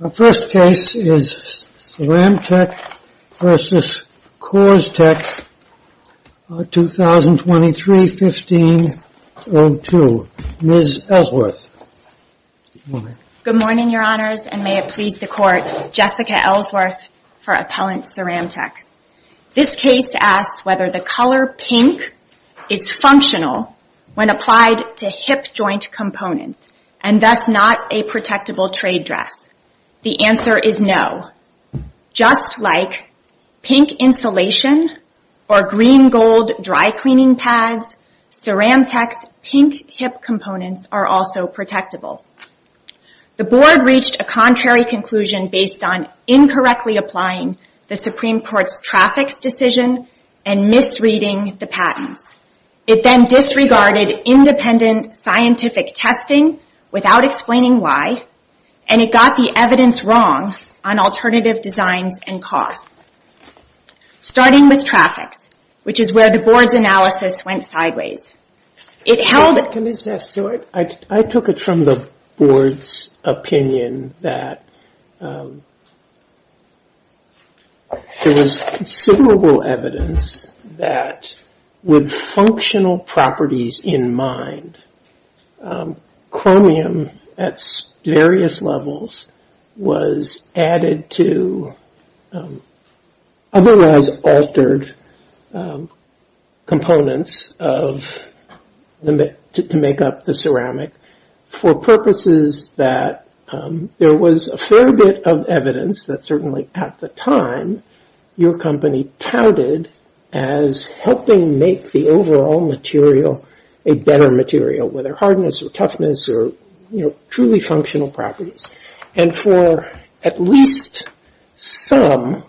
Our first case is CeramTec v. CoorsTek, 2023-15-02. Ms. Ellsworth. Good morning, Your Honors, and may it please the Court, Jessica Ellsworth for Appellant CeramTec. This case asks whether the color pink is functional when applied to hip joint components, and thus not a protectable trade dress. The answer is no. Just like pink insulation or green-gold dry-cleaning pads, CeramTec's pink hip components are also protectable. The Board reached a contrary conclusion based on incorrectly applying the Supreme Court's traffics decision and misreading the patents. It then disregarded independent scientific testing without explaining why, and it got the evidence wrong on alternative designs and costs. Starting with traffics, which is where the Board's analysis went sideways. I took it from the Board's opinion that there was considerable evidence that with functional properties in mind, chromium at various levels was added to otherwise altered components to make up the ceramic for purposes that there was a fair bit of evidence that certainly at the time your company touted as helping make the overall material a better material, whether hardness or toughness or truly functional properties. And for at least some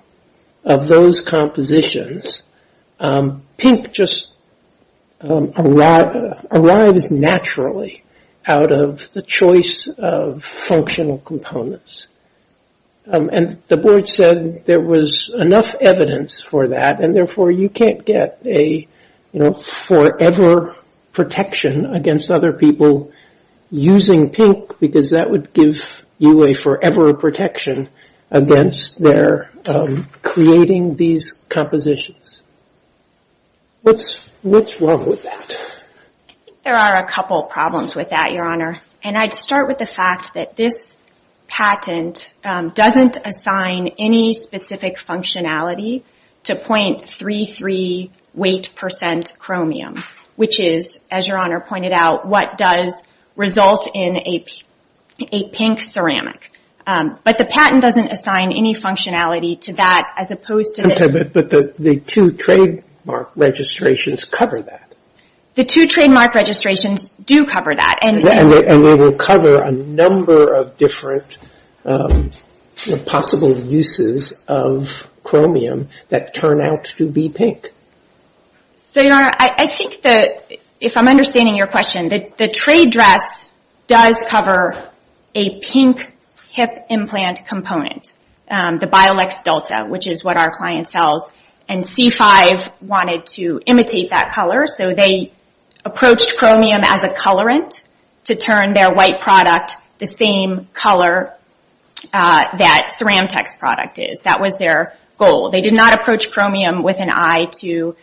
of those compositions, pink just arrives naturally out of the choice of functional components. And the Board said there was enough evidence for that, and therefore you can't get a forever protection against other people using pink because that would give you a forever protection against their creating these compositions. What's wrong with that? I think there are a couple problems with that, Your Honor. And I'd start with the fact that this patent doesn't assign any specific functionality to 0.33 weight percent chromium, which is, as Your Honor pointed out, what does result in a pink ceramic. But the patent doesn't assign any functionality to that as opposed to... I'm sorry, but the two trademark registrations cover that. The two trademark registrations do cover that. And they will cover a number of different possible uses of chromium that turn out to be pink. So, Your Honor, I think that if I'm understanding your question, the trade dress does cover a pink hip implant component, the Biolex Delta, which is what our client sells, and C5 wanted to imitate that color, so they approached chromium as a colorant to turn their white product the same color that Ceramtech's product is. That was their goal. They did not approach chromium with an eye to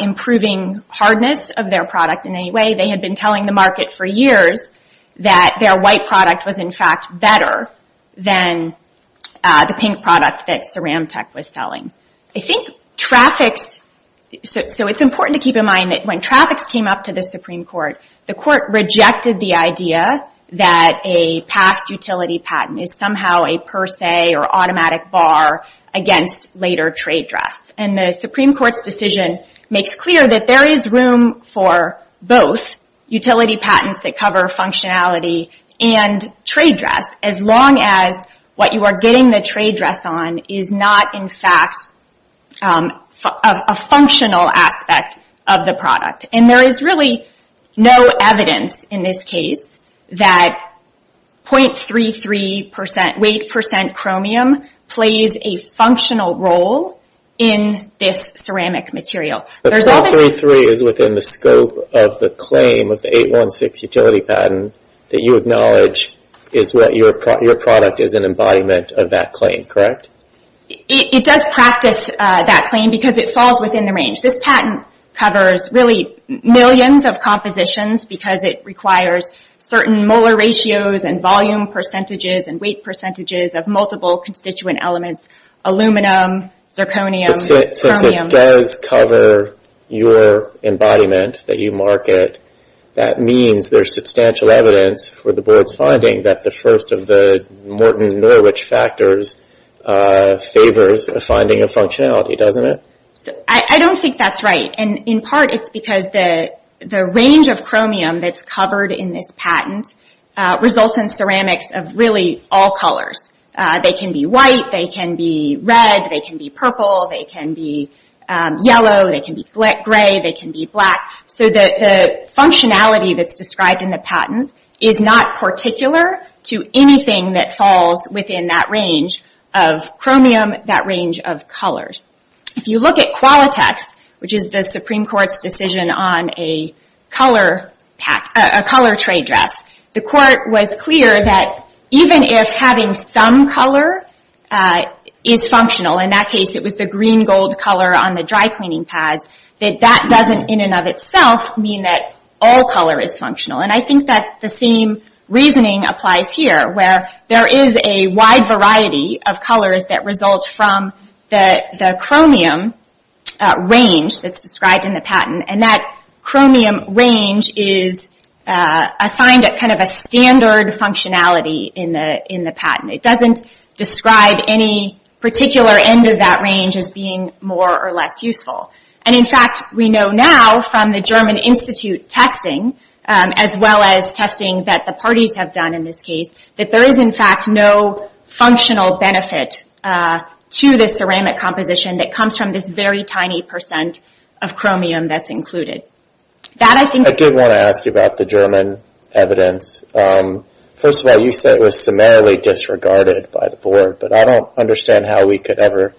improving hardness of their product in any way. They had been telling the market for years that their white product was, in fact, better than the pink product that Ceramtech was selling. I think traffics... So it's important to keep in mind that when traffics came up to the Supreme Court, the Court rejected the idea that a past utility patent is somehow a per se or automatic bar against later trade dress. And the Supreme Court's decision makes clear that there is room for both utility patents that cover functionality and trade dress, as long as what you are getting the trade dress on is not, in fact, a functional aspect of the product. And there is really no evidence in this case that 0.33 percent weight percent chromium plays a functional role in this ceramic material. But 0.33 is within the scope of the claim of the 816 utility patent that you acknowledge is what your product is an embodiment of that claim, correct? It does practice that claim because it falls within the range. This patent covers really millions of compositions because it requires certain molar ratios and volume percentages and weight percentages of multiple constituent elements, aluminum, zirconium, chromium. Since it does cover your embodiment that you market, that means there's substantial evidence for the Board's finding that the first of the Morton Norwich factors favors a finding of functionality, doesn't it? I don't think that's right. And in part it's because the range of chromium that's covered in this patent results in ceramics of really all colors. They can be white, they can be red, they can be purple, they can be yellow, they can be gray, they can be black. So the functionality that's described in the patent is not particular to anything that falls within that range of chromium, that range of colors. If you look at Qualitex, which is the Supreme Court's decision on a color tray dress, the Court was clear that even if having some color is functional, in that case it was the green gold color on the dry cleaning pads, that that doesn't in and of itself mean that all color is functional. And I think that the same reasoning applies here, where there is a wide variety of colors that result from the chromium range that's described in the patent, and that chromium range is assigned a standard functionality in the patent. It doesn't describe any particular end of that range as being more or less useful. And in fact, we know now from the German Institute testing, as well as testing that the parties have done in this case, that there is in fact no functional benefit to the ceramic composition that comes from this very tiny percent of chromium that's included. I did want to ask you about the German evidence. First of all, you said it was summarily disregarded by the Board, but I don't understand how we could ever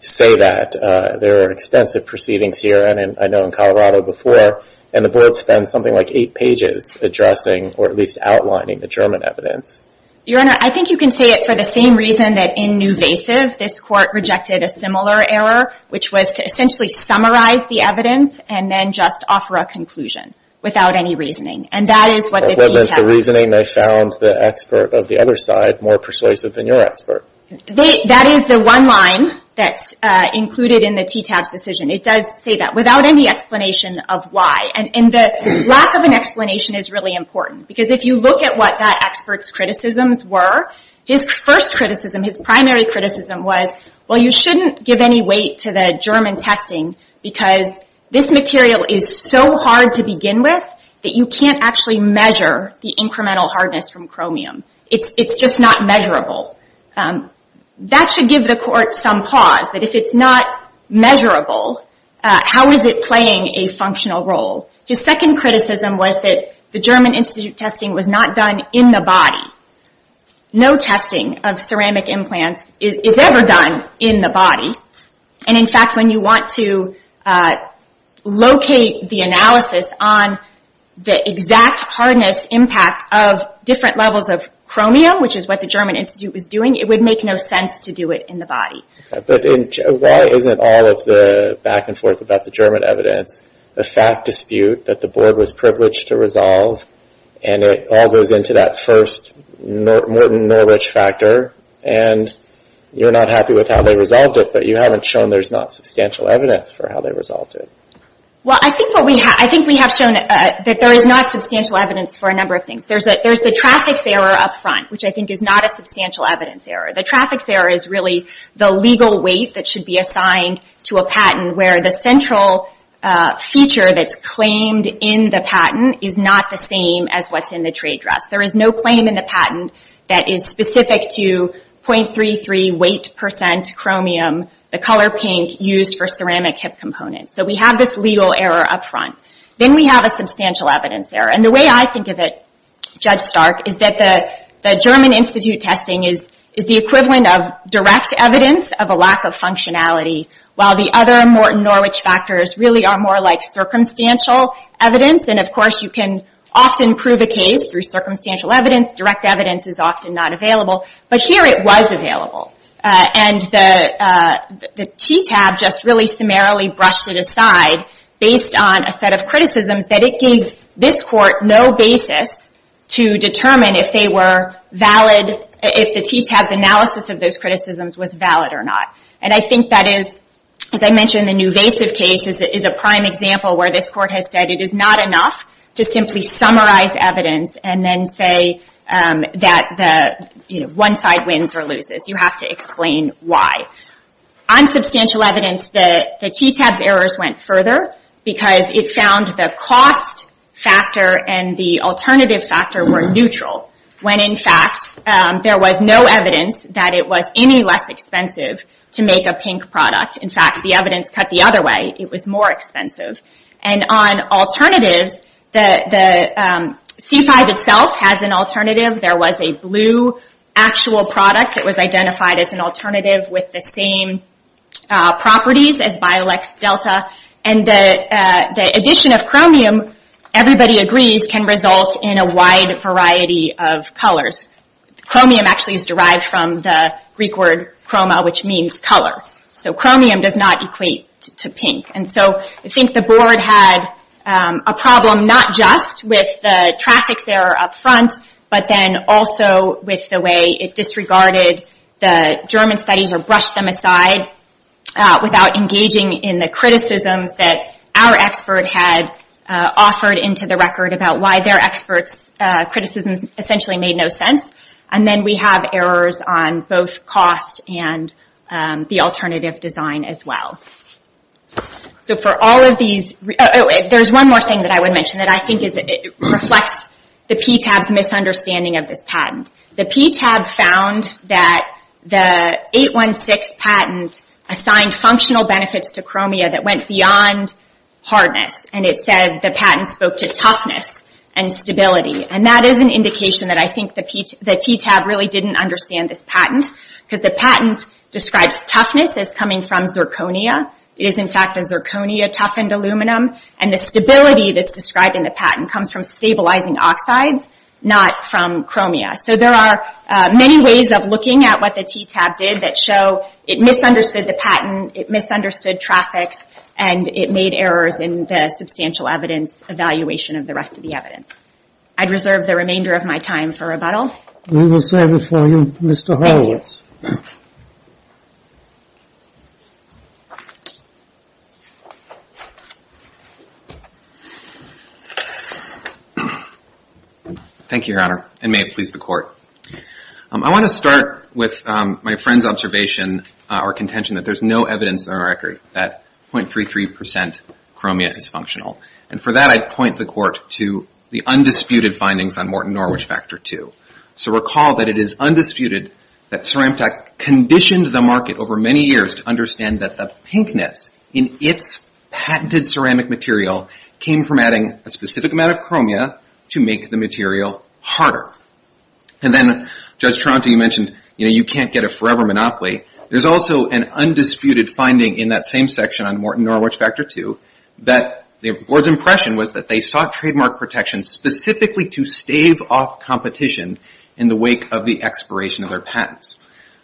say that. There are extensive proceedings here, and I know in Colorado before, and the Board spends something like eight pages addressing or at least outlining the German evidence. Your Honor, I think you can say it for the same reason that in Nuvasiv, this Court rejected a similar error, which was to essentially summarize the evidence and then just offer a conclusion without any reasoning. And that is what the team found. But wasn't the reasoning they found the expert of the other side more persuasive than your expert? That is the one line that's included in the TTAB's decision. It does say that without any explanation of why. And the lack of an explanation is really important. Because if you look at what that expert's criticisms were, his first criticism, his primary criticism was, well, you shouldn't give any weight to the German testing because this material is so hard to begin with that you can't actually measure the incremental hardness from chromium. It's just not measurable. That should give the Court some pause, that if it's not measurable, how is it playing a functional role? His second criticism was that the German institute testing was not done in the body. No testing of ceramic implants is ever done in the body. And, in fact, when you want to locate the analysis on the exact hardness impact of different levels of chromium, which is what the German institute was doing, it would make no sense to do it in the body. But why isn't all of the back and forth about the German evidence a fact dispute that the Board was privileged to resolve and it all goes into that first Norton Norwich factor and you're not happy with how they resolved it, but you haven't shown there's not substantial evidence for how they resolved it? Well, I think we have shown that there is not substantial evidence for a number of things. There's the traffic's error up front, which I think is not a substantial evidence error. The traffic's error is really the legal weight that should be assigned to a patent where the central feature that's claimed in the patent is not the same as what's in the trade dress. There is no claim in the patent that is specific to 0.33 weight percent chromium, the color pink used for ceramic hip components. So we have this legal error up front. Then we have a substantial evidence error. And the way I think of it, Judge Stark, is that the German institute testing is the equivalent of direct evidence of a lack of functionality, while the other Norton Norwich factors really are more like circumstantial evidence. And, of course, you can often prove a case through circumstantial evidence. Direct evidence is often not available. But here it was available. And the TTAB just really summarily brushed it aside based on a set of criticisms that it gave this court no basis to determine if the TTAB's analysis of those criticisms was valid or not. And I think that is, as I mentioned, the Nuvasiv case is a prime example where this court has said it is not enough to simply summarize evidence and then say that one side wins or loses. You have to explain why. On substantial evidence, the TTAB's errors went further because it found the cost factor and the alternative factor were neutral when, in fact, there was no evidence that it was any less expensive to make a pink product. In fact, the evidence cut the other way. It was more expensive. And on alternatives, the C5 itself has an alternative. There was a blue actual product that was identified as an alternative with the same properties as Biolex Delta. And the addition of chromium, everybody agrees, can result in a wide variety of colors. Chromium actually is derived from the Greek word chroma, which means color. So chromium does not equate to pink. And so I think the board had a problem not just with the traffic's error up front, but then also with the way it disregarded the German studies or brushed them aside without engaging in the criticisms that our expert had offered into the record about why their expert's criticisms essentially made no sense. And then we have errors on both cost and the alternative design as well. There's one more thing that I would mention that I think reflects the PTAB's misunderstanding of this patent. The PTAB found that the 816 patent assigned functional benefits to chromia that went beyond hardness. And it said the patent spoke to toughness and stability. And that is an indication that I think the PTAB really didn't understand this patent. Because the patent describes toughness as coming from zirconia. It is in fact a zirconia-toughened aluminum. And the stability that's described in the patent comes from stabilizing oxides, not from chromia. So there are many ways of looking at what the PTAB did that show it misunderstood the patent, it misunderstood traffic, and it made errors in the substantial evaluation of the rest of the evidence. I'd reserve the remainder of my time for rebuttal. We will stand before you, Mr. Horowitz. Thank you, Your Honor, and may it please the Court. I want to start with my friend's observation or contention that there's no evidence in our record that 0.33 percent chromia is functional. And for that, I'd point the Court to the undisputed findings on Morton Norwich Factor II. So recall that it is undisputed that 0.33 percent chromia is functional. And that Ceramtech conditioned the market over many years to understand that the pinkness in its patented ceramic material came from adding a specific amount of chromia to make the material harder. And then, Judge Tronte, you mentioned you can't get a forever monopoly. There's also an undisputed finding in that same section on Morton Norwich Factor II that the Board's impression was that they sought trademark protection specifically to stave off competition in the wake of the expiration of their patents.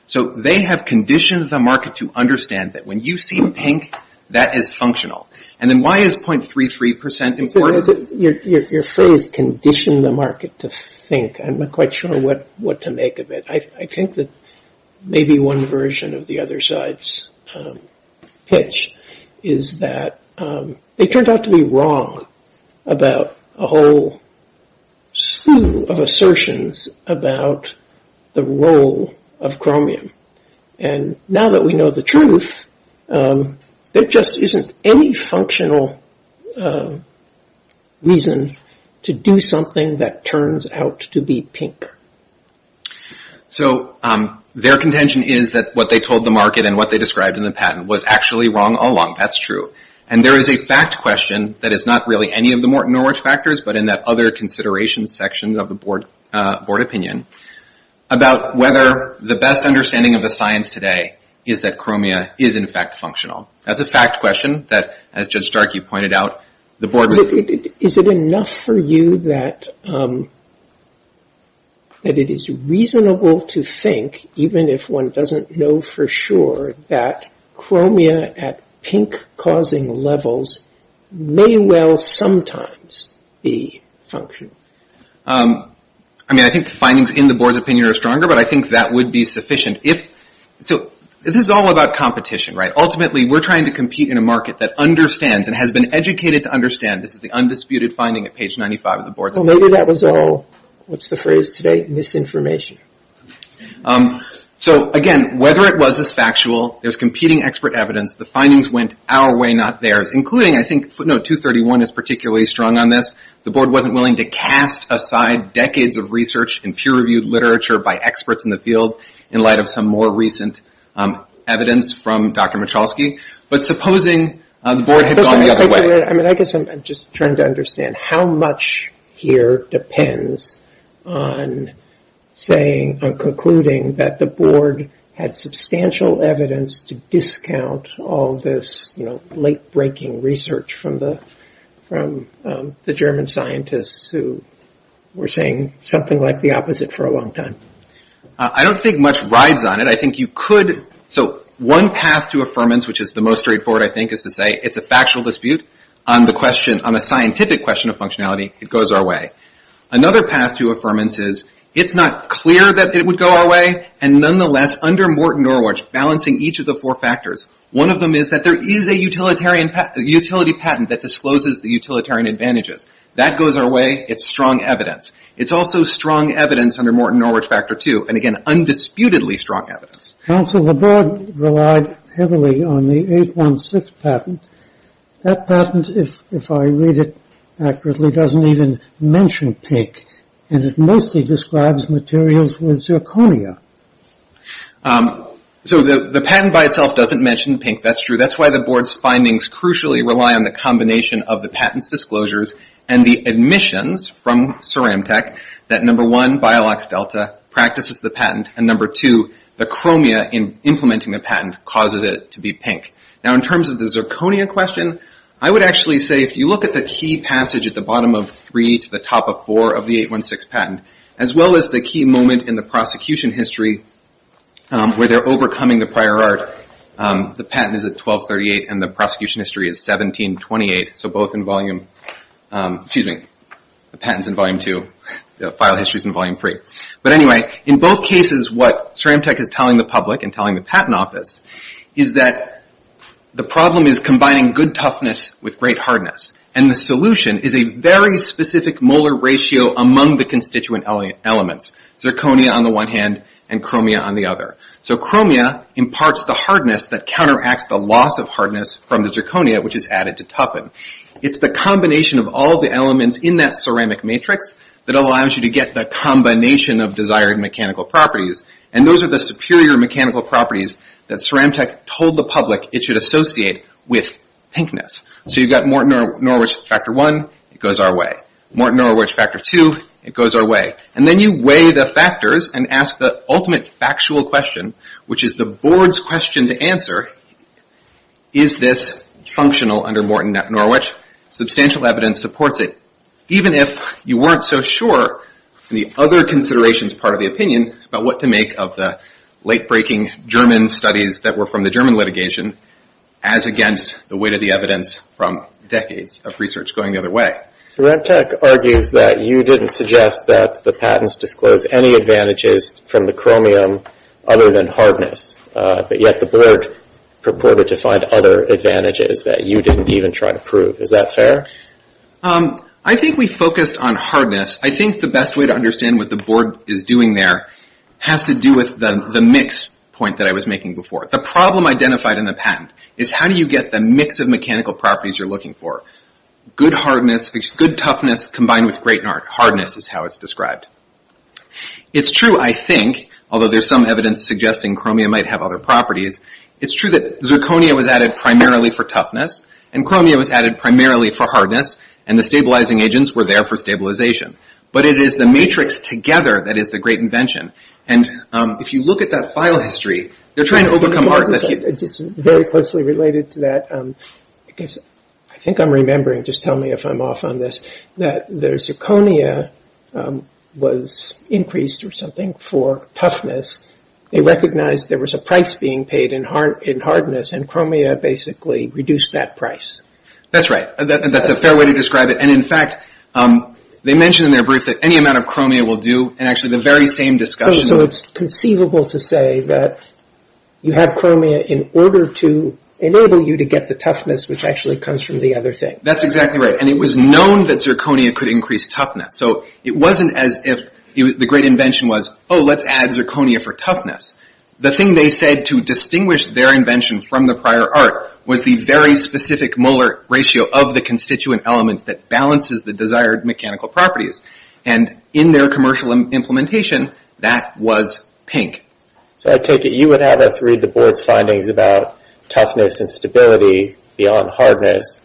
So they have conditioned the market to understand that when you see pink, that is functional. And then why is 0.33 percent important? Your phrase conditioned the market to think, I'm not quite sure what to make of it. I think that maybe one version of the other side's pitch is that they turned out to be wrong about a whole slew of assertions about the role of chromium. And now that we know the truth, there just isn't any functional reason to do something that turns out to be pink. So their contention is that what they told the market and what they described in the patent was actually wrong all along. That's true. And there is a fact question that is not really any of the Morton Norwich factors, but in that other consideration section of the Board opinion, about whether the best understanding of the science today is that chromia is, in fact, functional. That's a fact question that, as Judge Stark, you pointed out, the Board... Is it enough for you that it is reasonable to think, even if one doesn't know for sure, that chromia at pink-causing levels may well sometimes be functional? I mean, I think the findings in the Board's opinion are stronger, but I think that would be sufficient. So this is all about competition, right? Ultimately, we're trying to compete in a market that understands and has been educated to understand. This is the undisputed finding at page 95 of the Board's opinion. Well, maybe that was all, what's the phrase today? Misinformation. So, again, whether it was as factual, there's competing expert evidence. The findings went our way, not theirs, including, I think, footnote 231 is particularly strong on this. The Board wasn't willing to cast aside decades of research in peer-reviewed literature by experts in the field in light of some more recent evidence from Dr. Michalski. But supposing the Board had gone the other way. I guess I'm just trying to understand how much here depends on concluding that the Board had substantial evidence to discount all this late-breaking research from the German scientists who were saying something like the opposite for a long time. I don't think much rides on it. So one path to affirmance, which is the most straightforward, I think, is to say it's a factual dispute. On a scientific question of functionality, it goes our way. Another path to affirmance is it's not clear that it would go our way, and nonetheless, under Morton Norwich, balancing each of the four factors, one of them is that there is a utility patent that discloses the utilitarian advantages. That goes our way. It's strong evidence. It's also strong evidence under Morton Norwich Factor II, and again, undisputedly strong evidence. Counsel, the Board relied heavily on the 816 patent. That patent, if I read it accurately, doesn't even mention pink, and it mostly describes materials with zirconia. So the patent by itself doesn't mention pink. That's true. That's why the Board's findings crucially rely on the combination of the patent's disclosures and the admissions from CeramTec that, number one, Biolox Delta practices the patent, and, number two, the chromia in implementing the patent causes it to be pink. Now, in terms of the zirconia question, I would actually say if you look at the key passage at the bottom of 3 to the top of 4 of the 816 patent, as well as the key moment in the prosecution history where they're overcoming the prior art, the patent is at 1238 and the prosecution history is 1728, so the patent's in volume 2, the file history's in volume 3. But anyway, in both cases, what CeramTec is telling the public and telling the patent office is that the problem is combining good toughness with great hardness, and the solution is a very specific molar ratio among the constituent elements, zirconia on the one hand and chromia on the other. So chromia imparts the hardness that counteracts the loss of hardness from the zirconia, which is added to toughen. It's the combination of all the elements in that ceramic matrix that allows you to get the combination of desired mechanical properties, and those are the superior mechanical properties that CeramTec told the public it should associate with pinkness. So you've got Morton-Norwich factor 1, it goes our way. Morton-Norwich factor 2, it goes our way. And then you weigh the factors and ask the ultimate factual question, which is the board's question to answer, is this functional under Morton-Norwich? Substantial evidence supports it, even if you weren't so sure in the other considerations part of the opinion about what to make of the late-breaking German studies that were from the German litigation as against the weight of the evidence from decades of research going the other way. CeramTec argues that you didn't suggest that the patents disclose any advantages from the chromium other than hardness, but yet the board purported to find other advantages that you didn't even try to prove. Is that fair? I think we focused on hardness. I think the best way to understand what the board is doing there has to do with the mix point that I was making before. The problem identified in the patent is how do you get the mix of mechanical properties you're looking for? Good hardness, good toughness combined with great hardness is how it's described. It's true, I think, although there's some evidence suggesting chromium might have other properties, it's true that zirconia was added primarily for toughness and chromium was added primarily for hardness and the stabilizing agents were there for stabilization. But it is the matrix together that is the great invention. And if you look at that file history, they're trying to overcome hardness. It's very closely related to that. I think I'm remembering, just tell me if I'm off on this, that the zirconia was increased or something for toughness. They recognized there was a price being paid in hardness and chromium basically reduced that price. That's right. That's a fair way to describe it. And in fact, they mentioned in their brief that any amount of chromium will do and actually the very same discussion... It's conceivable to say that you have chromium in order to enable you to get the toughness which actually comes from the other thing. That's exactly right. And it was known that zirconia could increase toughness. So it wasn't as if the great invention was, oh, let's add zirconia for toughness. The thing they said to distinguish their invention from the prior art was the very specific molar ratio of the constituent elements that balances the desired mechanical properties. And in their commercial implementation, that was pink. So I take it you would have us read the board's findings about toughness and stability beyond hardness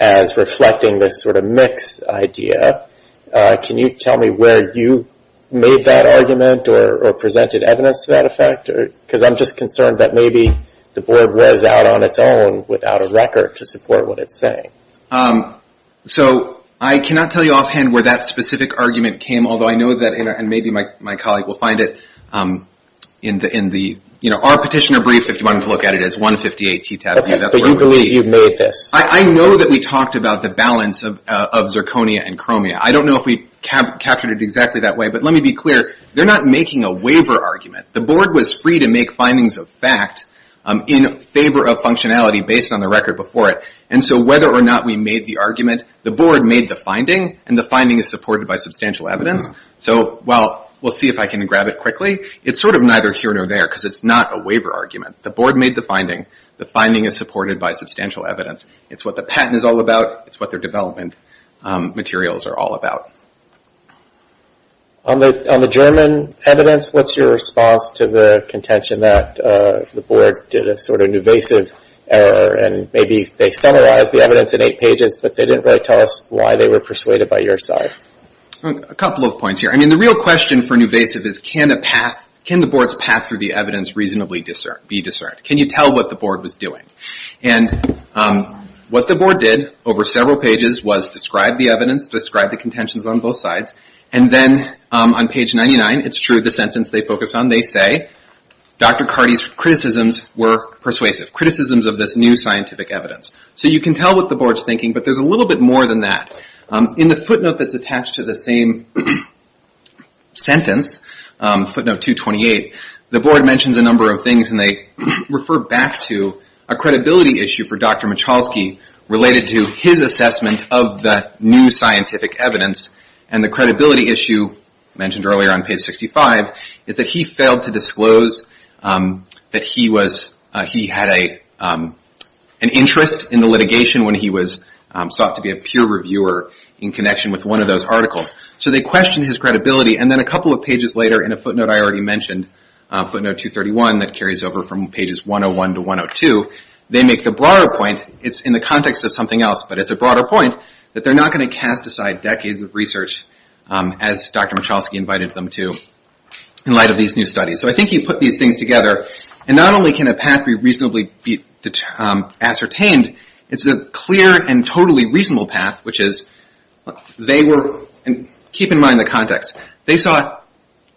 as reflecting this sort of mixed idea. Can you tell me where you made that argument or presented evidence to that effect? Because I'm just concerned that maybe the board was out on its own without a record to support what it's saying. So I cannot tell you offhand where that specific argument came, although I know that, and maybe my colleague will find it in our petitioner brief, if you wanted to look at it, it's 158T tab. But you believe you've made this. I know that we talked about the balance of zirconia and chromium. I don't know if we captured it exactly that way, but let me be clear. They're not making a waiver argument. The board was free to make findings of fact in favor of functionality based on the record before it. And so whether or not we made the argument, the board made the finding, and the finding is supported by substantial evidence. So while we'll see if I can grab it quickly, it's sort of neither here nor there because it's not a waiver argument. The board made the finding. The finding is supported by substantial evidence. It's what the patent is all about. It's what their development materials are all about. On the German evidence, what's your response to the contention that the board did a sort of invasive error and maybe they summarized the evidence in eight pages, but they didn't really tell us why they were persuaded by your side? A couple of points here. I mean, the real question for an invasive is can the board's path through the evidence reasonably be discerned? Can you tell what the board was doing? And what the board did over several pages was describe the evidence, describe the contentions on both sides. And then on page 99, it's true, the sentence they focus on, they say, Dr. Carty's criticisms were persuasive, criticisms of this new scientific evidence. So you can tell what the board's thinking, but there's a little bit more than that. In the footnote that's attached to the same sentence, footnote 228, the board mentions a number of things and they refer back to a credibility issue for Dr. Michalski related to his assessment of the new scientific evidence. And the credibility issue mentioned earlier on page 65 is that he failed to disclose that he had an interest in the litigation when he was sought to be a peer reviewer in connection with one of those articles. So they question his credibility. And then a couple of pages later in a footnote I already mentioned, footnote 231, that carries over from pages 101 to 102, they make the broader point, it's in the context of something else, but it's a broader point, that they're not going to cast aside decades of research, as Dr. Michalski invited them to, in light of these new studies. So I think he put these things together. And not only can a path be reasonably ascertained, it's a clear and totally reasonable path, which is they were, keep in mind the context, they saw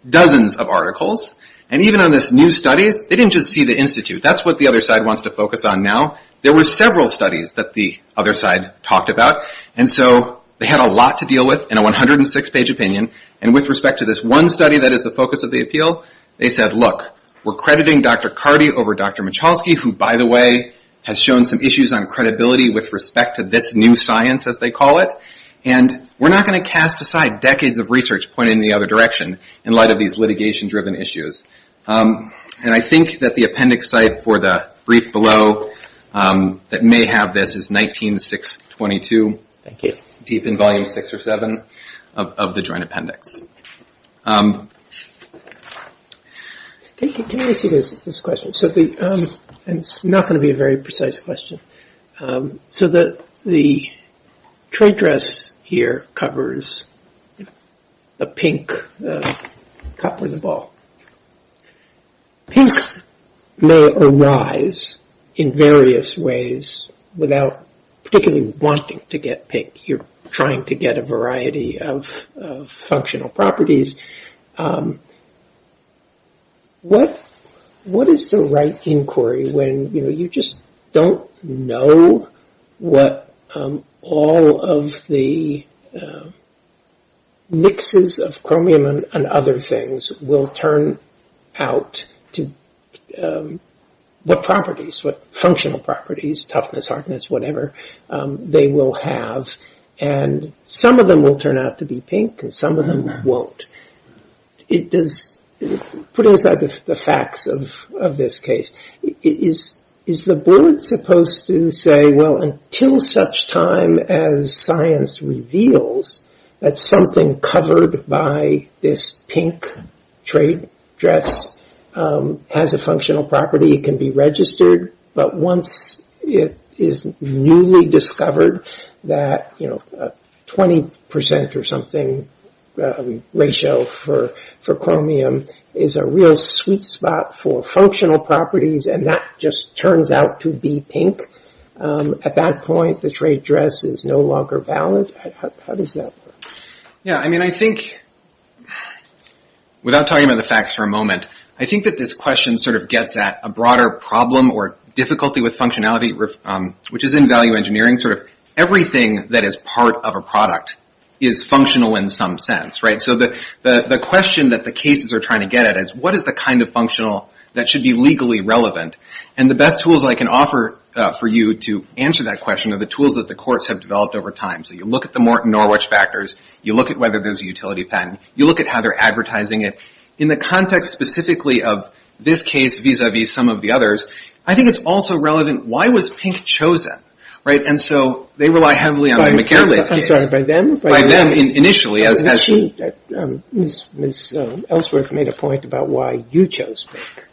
dozens of articles, and even on this new studies, they didn't just see the institute. That's what the other side wants to focus on now. There were several studies that the other side talked about, and so they had a lot to deal with in a 106-page opinion, and with respect to this one study that is the focus of the appeal, they said, look, we're crediting Dr. Cardi over Dr. Michalski, who, by the way, has shown some issues on credibility with respect to this new science, as they call it, and we're not going to cast aside decades of research pointed in the other direction in light of these litigation-driven issues. And I think that the appendix site for the brief below that may have this is 19.622, deep in volume six or seven of the joint appendix. Can I ask you this question? It's not going to be a very precise question. So the trade dress here covers a pink cup or the ball. Pink may arise in various ways without particularly wanting to get pink. You're trying to get a variety of functional properties. What is the right inquiry when you just don't know what all of the mixes of chromium and other things will turn out to, what properties, what functional properties, toughness, hardness, whatever, they will have, and some of them will turn out to be pink and some of them won't. Put inside the facts of this case, is the board supposed to say, well, until such time as science reveals that something covered by this pink trade dress has a functional property, it can be registered, but once it is newly discovered that 20% or something ratio for chromium is a real sweet spot for functional properties and that just turns out to be pink, at that point the trade dress is no longer valid? How does that work? Yeah, I mean, I think, without talking about the facts for a moment, I think that this question sort of gets at a broader problem or difficulty with functionality, which is in value engineering. Everything that is part of a product is functional in some sense, right? So the question that the cases are trying to get at is, what is the kind of functional that should be legally relevant? And the best tools I can offer for you to answer that question are the tools that the courts have developed over time. So you look at the Morton Norwich factors. You look at whether there's a utility patent. You look at how they're advertising it. In the context specifically of this case vis-à-vis some of the others, I think it's also relevant, why was pink chosen? And so they rely heavily on the McGarrelates case. I'm sorry, by them? By them initially. Ms. Ellsworth made a point about why you chose pink.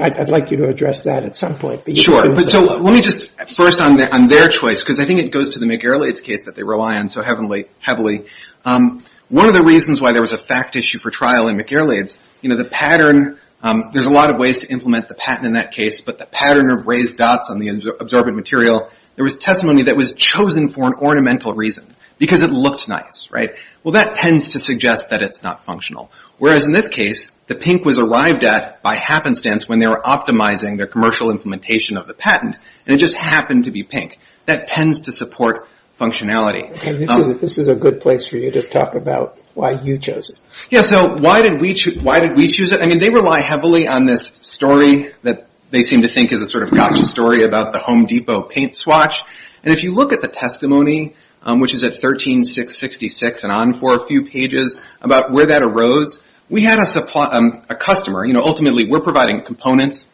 I'd like you to address that at some point. Sure. So let me just first on their choice, because I think it goes to the McGarrelates case that they rely on so heavily. One of the reasons why there was a fact issue for trial in McGarrelates, you know, the pattern, there's a lot of ways to implement the patent in that case, but the pattern of raised dots on the absorbent material, there was testimony that was chosen for an ornamental reason, because it looked nice, right? Well, that tends to suggest that it's not functional. Whereas in this case, the pink was arrived at by happenstance when they were optimizing their commercial implementation of the patent, and it just happened to be pink. That tends to support functionality. Okay, this is a good place for you to talk about why you chose it. Yeah, so why did we choose it? I mean, they rely heavily on this story that they seem to think is a sort of gotcha story about the Home Depot paint swatch. And if you look at the testimony, which is at 13666 and on for a few pages, about where that arose, we had a customer, you know, ultimately we're providing components,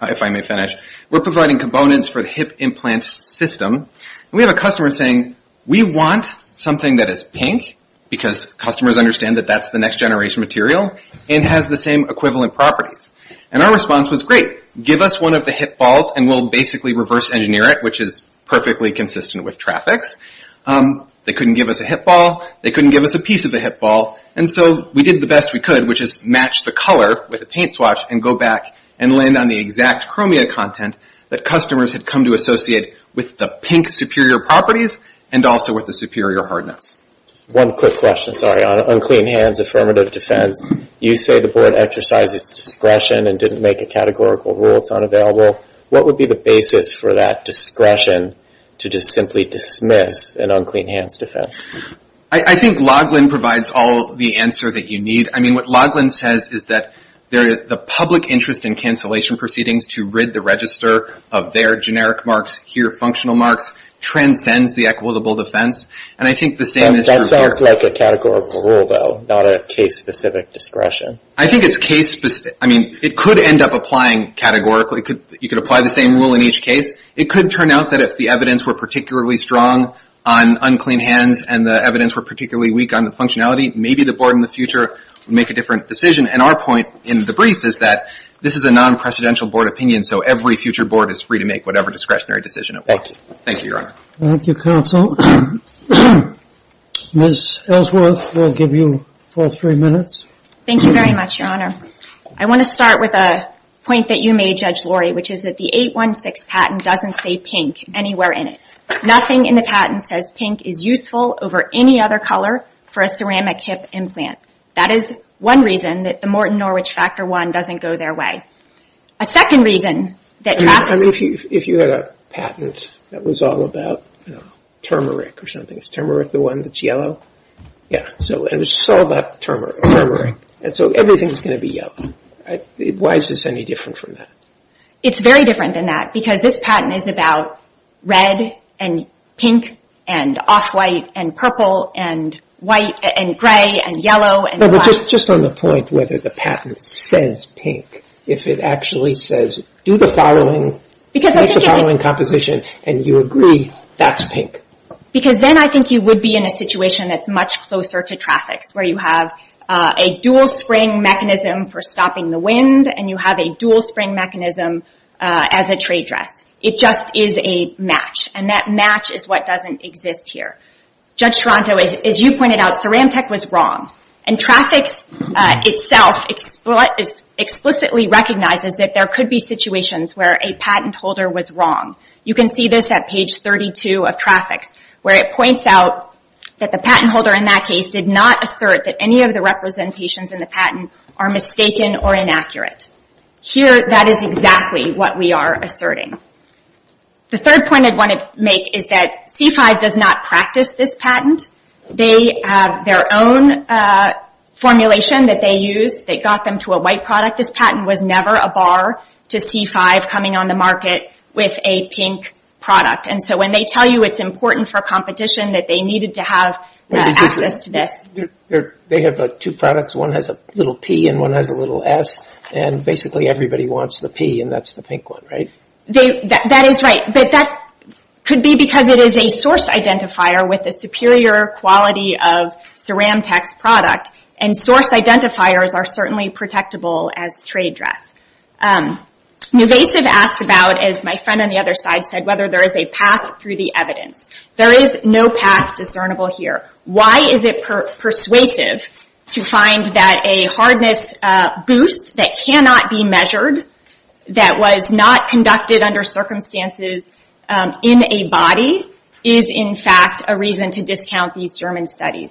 if I may finish, we're providing components for the hip implant system. And we have a customer saying, we want something that is pink, because customers understand that that's the next generation material, and has the same equivalent properties. And our response was, great, give us one of the hip balls and we'll basically reverse engineer it, which is perfectly consistent with traffics. They couldn't give us a hip ball. They couldn't give us a piece of the hip ball. And so we did the best we could, which is match the color with a paint swatch and go back and land on the exact chromia content that customers had come to associate with the pink superior properties and also with the superior hardness. One quick question, sorry, on unclean hands affirmative defense. You say the board exercised its discretion and didn't make a categorical rule, it's unavailable. What would be the basis for that discretion to just simply dismiss an unclean hands defense? I think Loughlin provides all the answer that you need. I mean, what Loughlin says is that the public interest in cancellation proceedings to rid the register of their generic marks, here functional marks, transcends the equitable defense. That sounds like a categorical rule, though, not a case-specific discretion. I think it's case-specific. I mean, it could end up applying categorically. You could apply the same rule in each case. It could turn out that if the evidence were particularly strong on unclean hands and the evidence were particularly weak on the functionality, maybe the board in the future would make a different decision. And our point in the brief is that this is a non-presidential board opinion, so every future board is free to make whatever discretionary decision it wants. Thank you, Your Honor. Thank you, counsel. Ms. Ellsworth, we'll give you four or three minutes. Thank you very much, Your Honor. I want to start with a point that you made, Judge Laurie, which is that the 816 patent doesn't say pink anywhere in it. Nothing in the patent says pink is useful over any other color for a ceramic hip implant. That is one reason that the Morton Norwich Factor I doesn't go their way. A second reason that drafts... I mean, if you had a patent that was all about turmeric or something, is turmeric the one that's yellow? Yeah, so it's all about turmeric, and so everything's going to be yellow. Why is this any different from that? It's very different than that because this patent is about red and pink and off-white and purple and white and gray and yellow and black. Just on the point whether the patent says pink, if it actually says do the following, make the following composition, and you agree that's pink. Because then I think you would be in a situation that's much closer to traffics, where you have a dual spring mechanism for stopping the wind and you have a dual spring mechanism as a trade dress. It just is a match, and that match is what doesn't exist here. Judge Toronto, as you pointed out, ceramic tech was wrong, and traffics itself explicitly recognizes that there could be situations where a patent holder was wrong. You can see this at page 32 of traffics, where it points out that the patent holder in that case did not assert that any of the representations in the patent are mistaken or inaccurate. Here, that is exactly what we are asserting. The third point I want to make is that C5 does not practice this patent. They have their own formulation that they use. They got them to a white product. This patent was never a bar to C5 coming on the market with a pink product. And so when they tell you it's important for competition, that they needed to have access to this. They have two products. One has a little P and one has a little S, and basically everybody wants the P, and that's the pink one, right? That is right. But that could be because it is a source identifier with a superior quality of ceramic tech's product, and source identifiers are certainly protectable as trade dress. Nuvasiv asked about, as my friend on the other side said, whether there is a path through the evidence. There is no path discernible here. Why is it persuasive to find that a hardness boost that cannot be measured, that was not conducted under circumstances in a body, is in fact a reason to discount these German studies?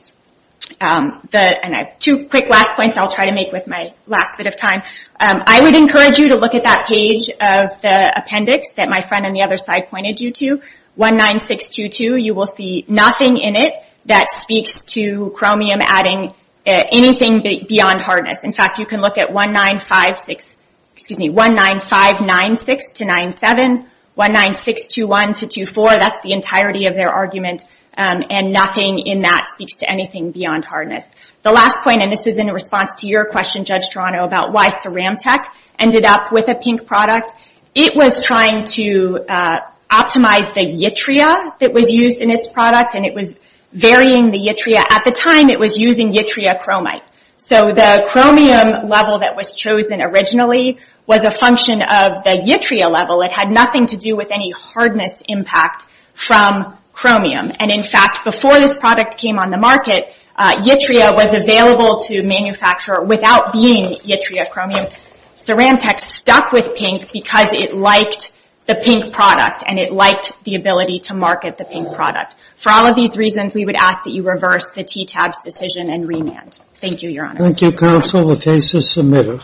Two quick last points I'll try to make with my last bit of time. I would encourage you to look at that page of the appendix that my friend on the other side pointed you to, 19622. You will see nothing in it that speaks to chromium adding anything beyond hardness. In fact, you can look at 19596-97, 19621-24. That's the entirety of their argument, and nothing in that speaks to anything beyond hardness. The last point, and this is in response to your question, Judge Toronto, about why ceramic tech ended up with a pink product. It was trying to optimize the yttria that was used in its product, and it was varying the yttria. At the time, it was using yttria chromite. The chromium level that was chosen originally was a function of the yttria level. It had nothing to do with any hardness impact from chromium. In fact, before this product came on the market, yttria was available to manufacture without being yttria chromium. Ceramic tech stuck with pink because it liked the pink product, and it liked the ability to market the pink product. For all of these reasons, we would ask that you reverse the TTAB's decision and remand. Thank you, Your Honor. Thank you, Counsel. The case is submitted.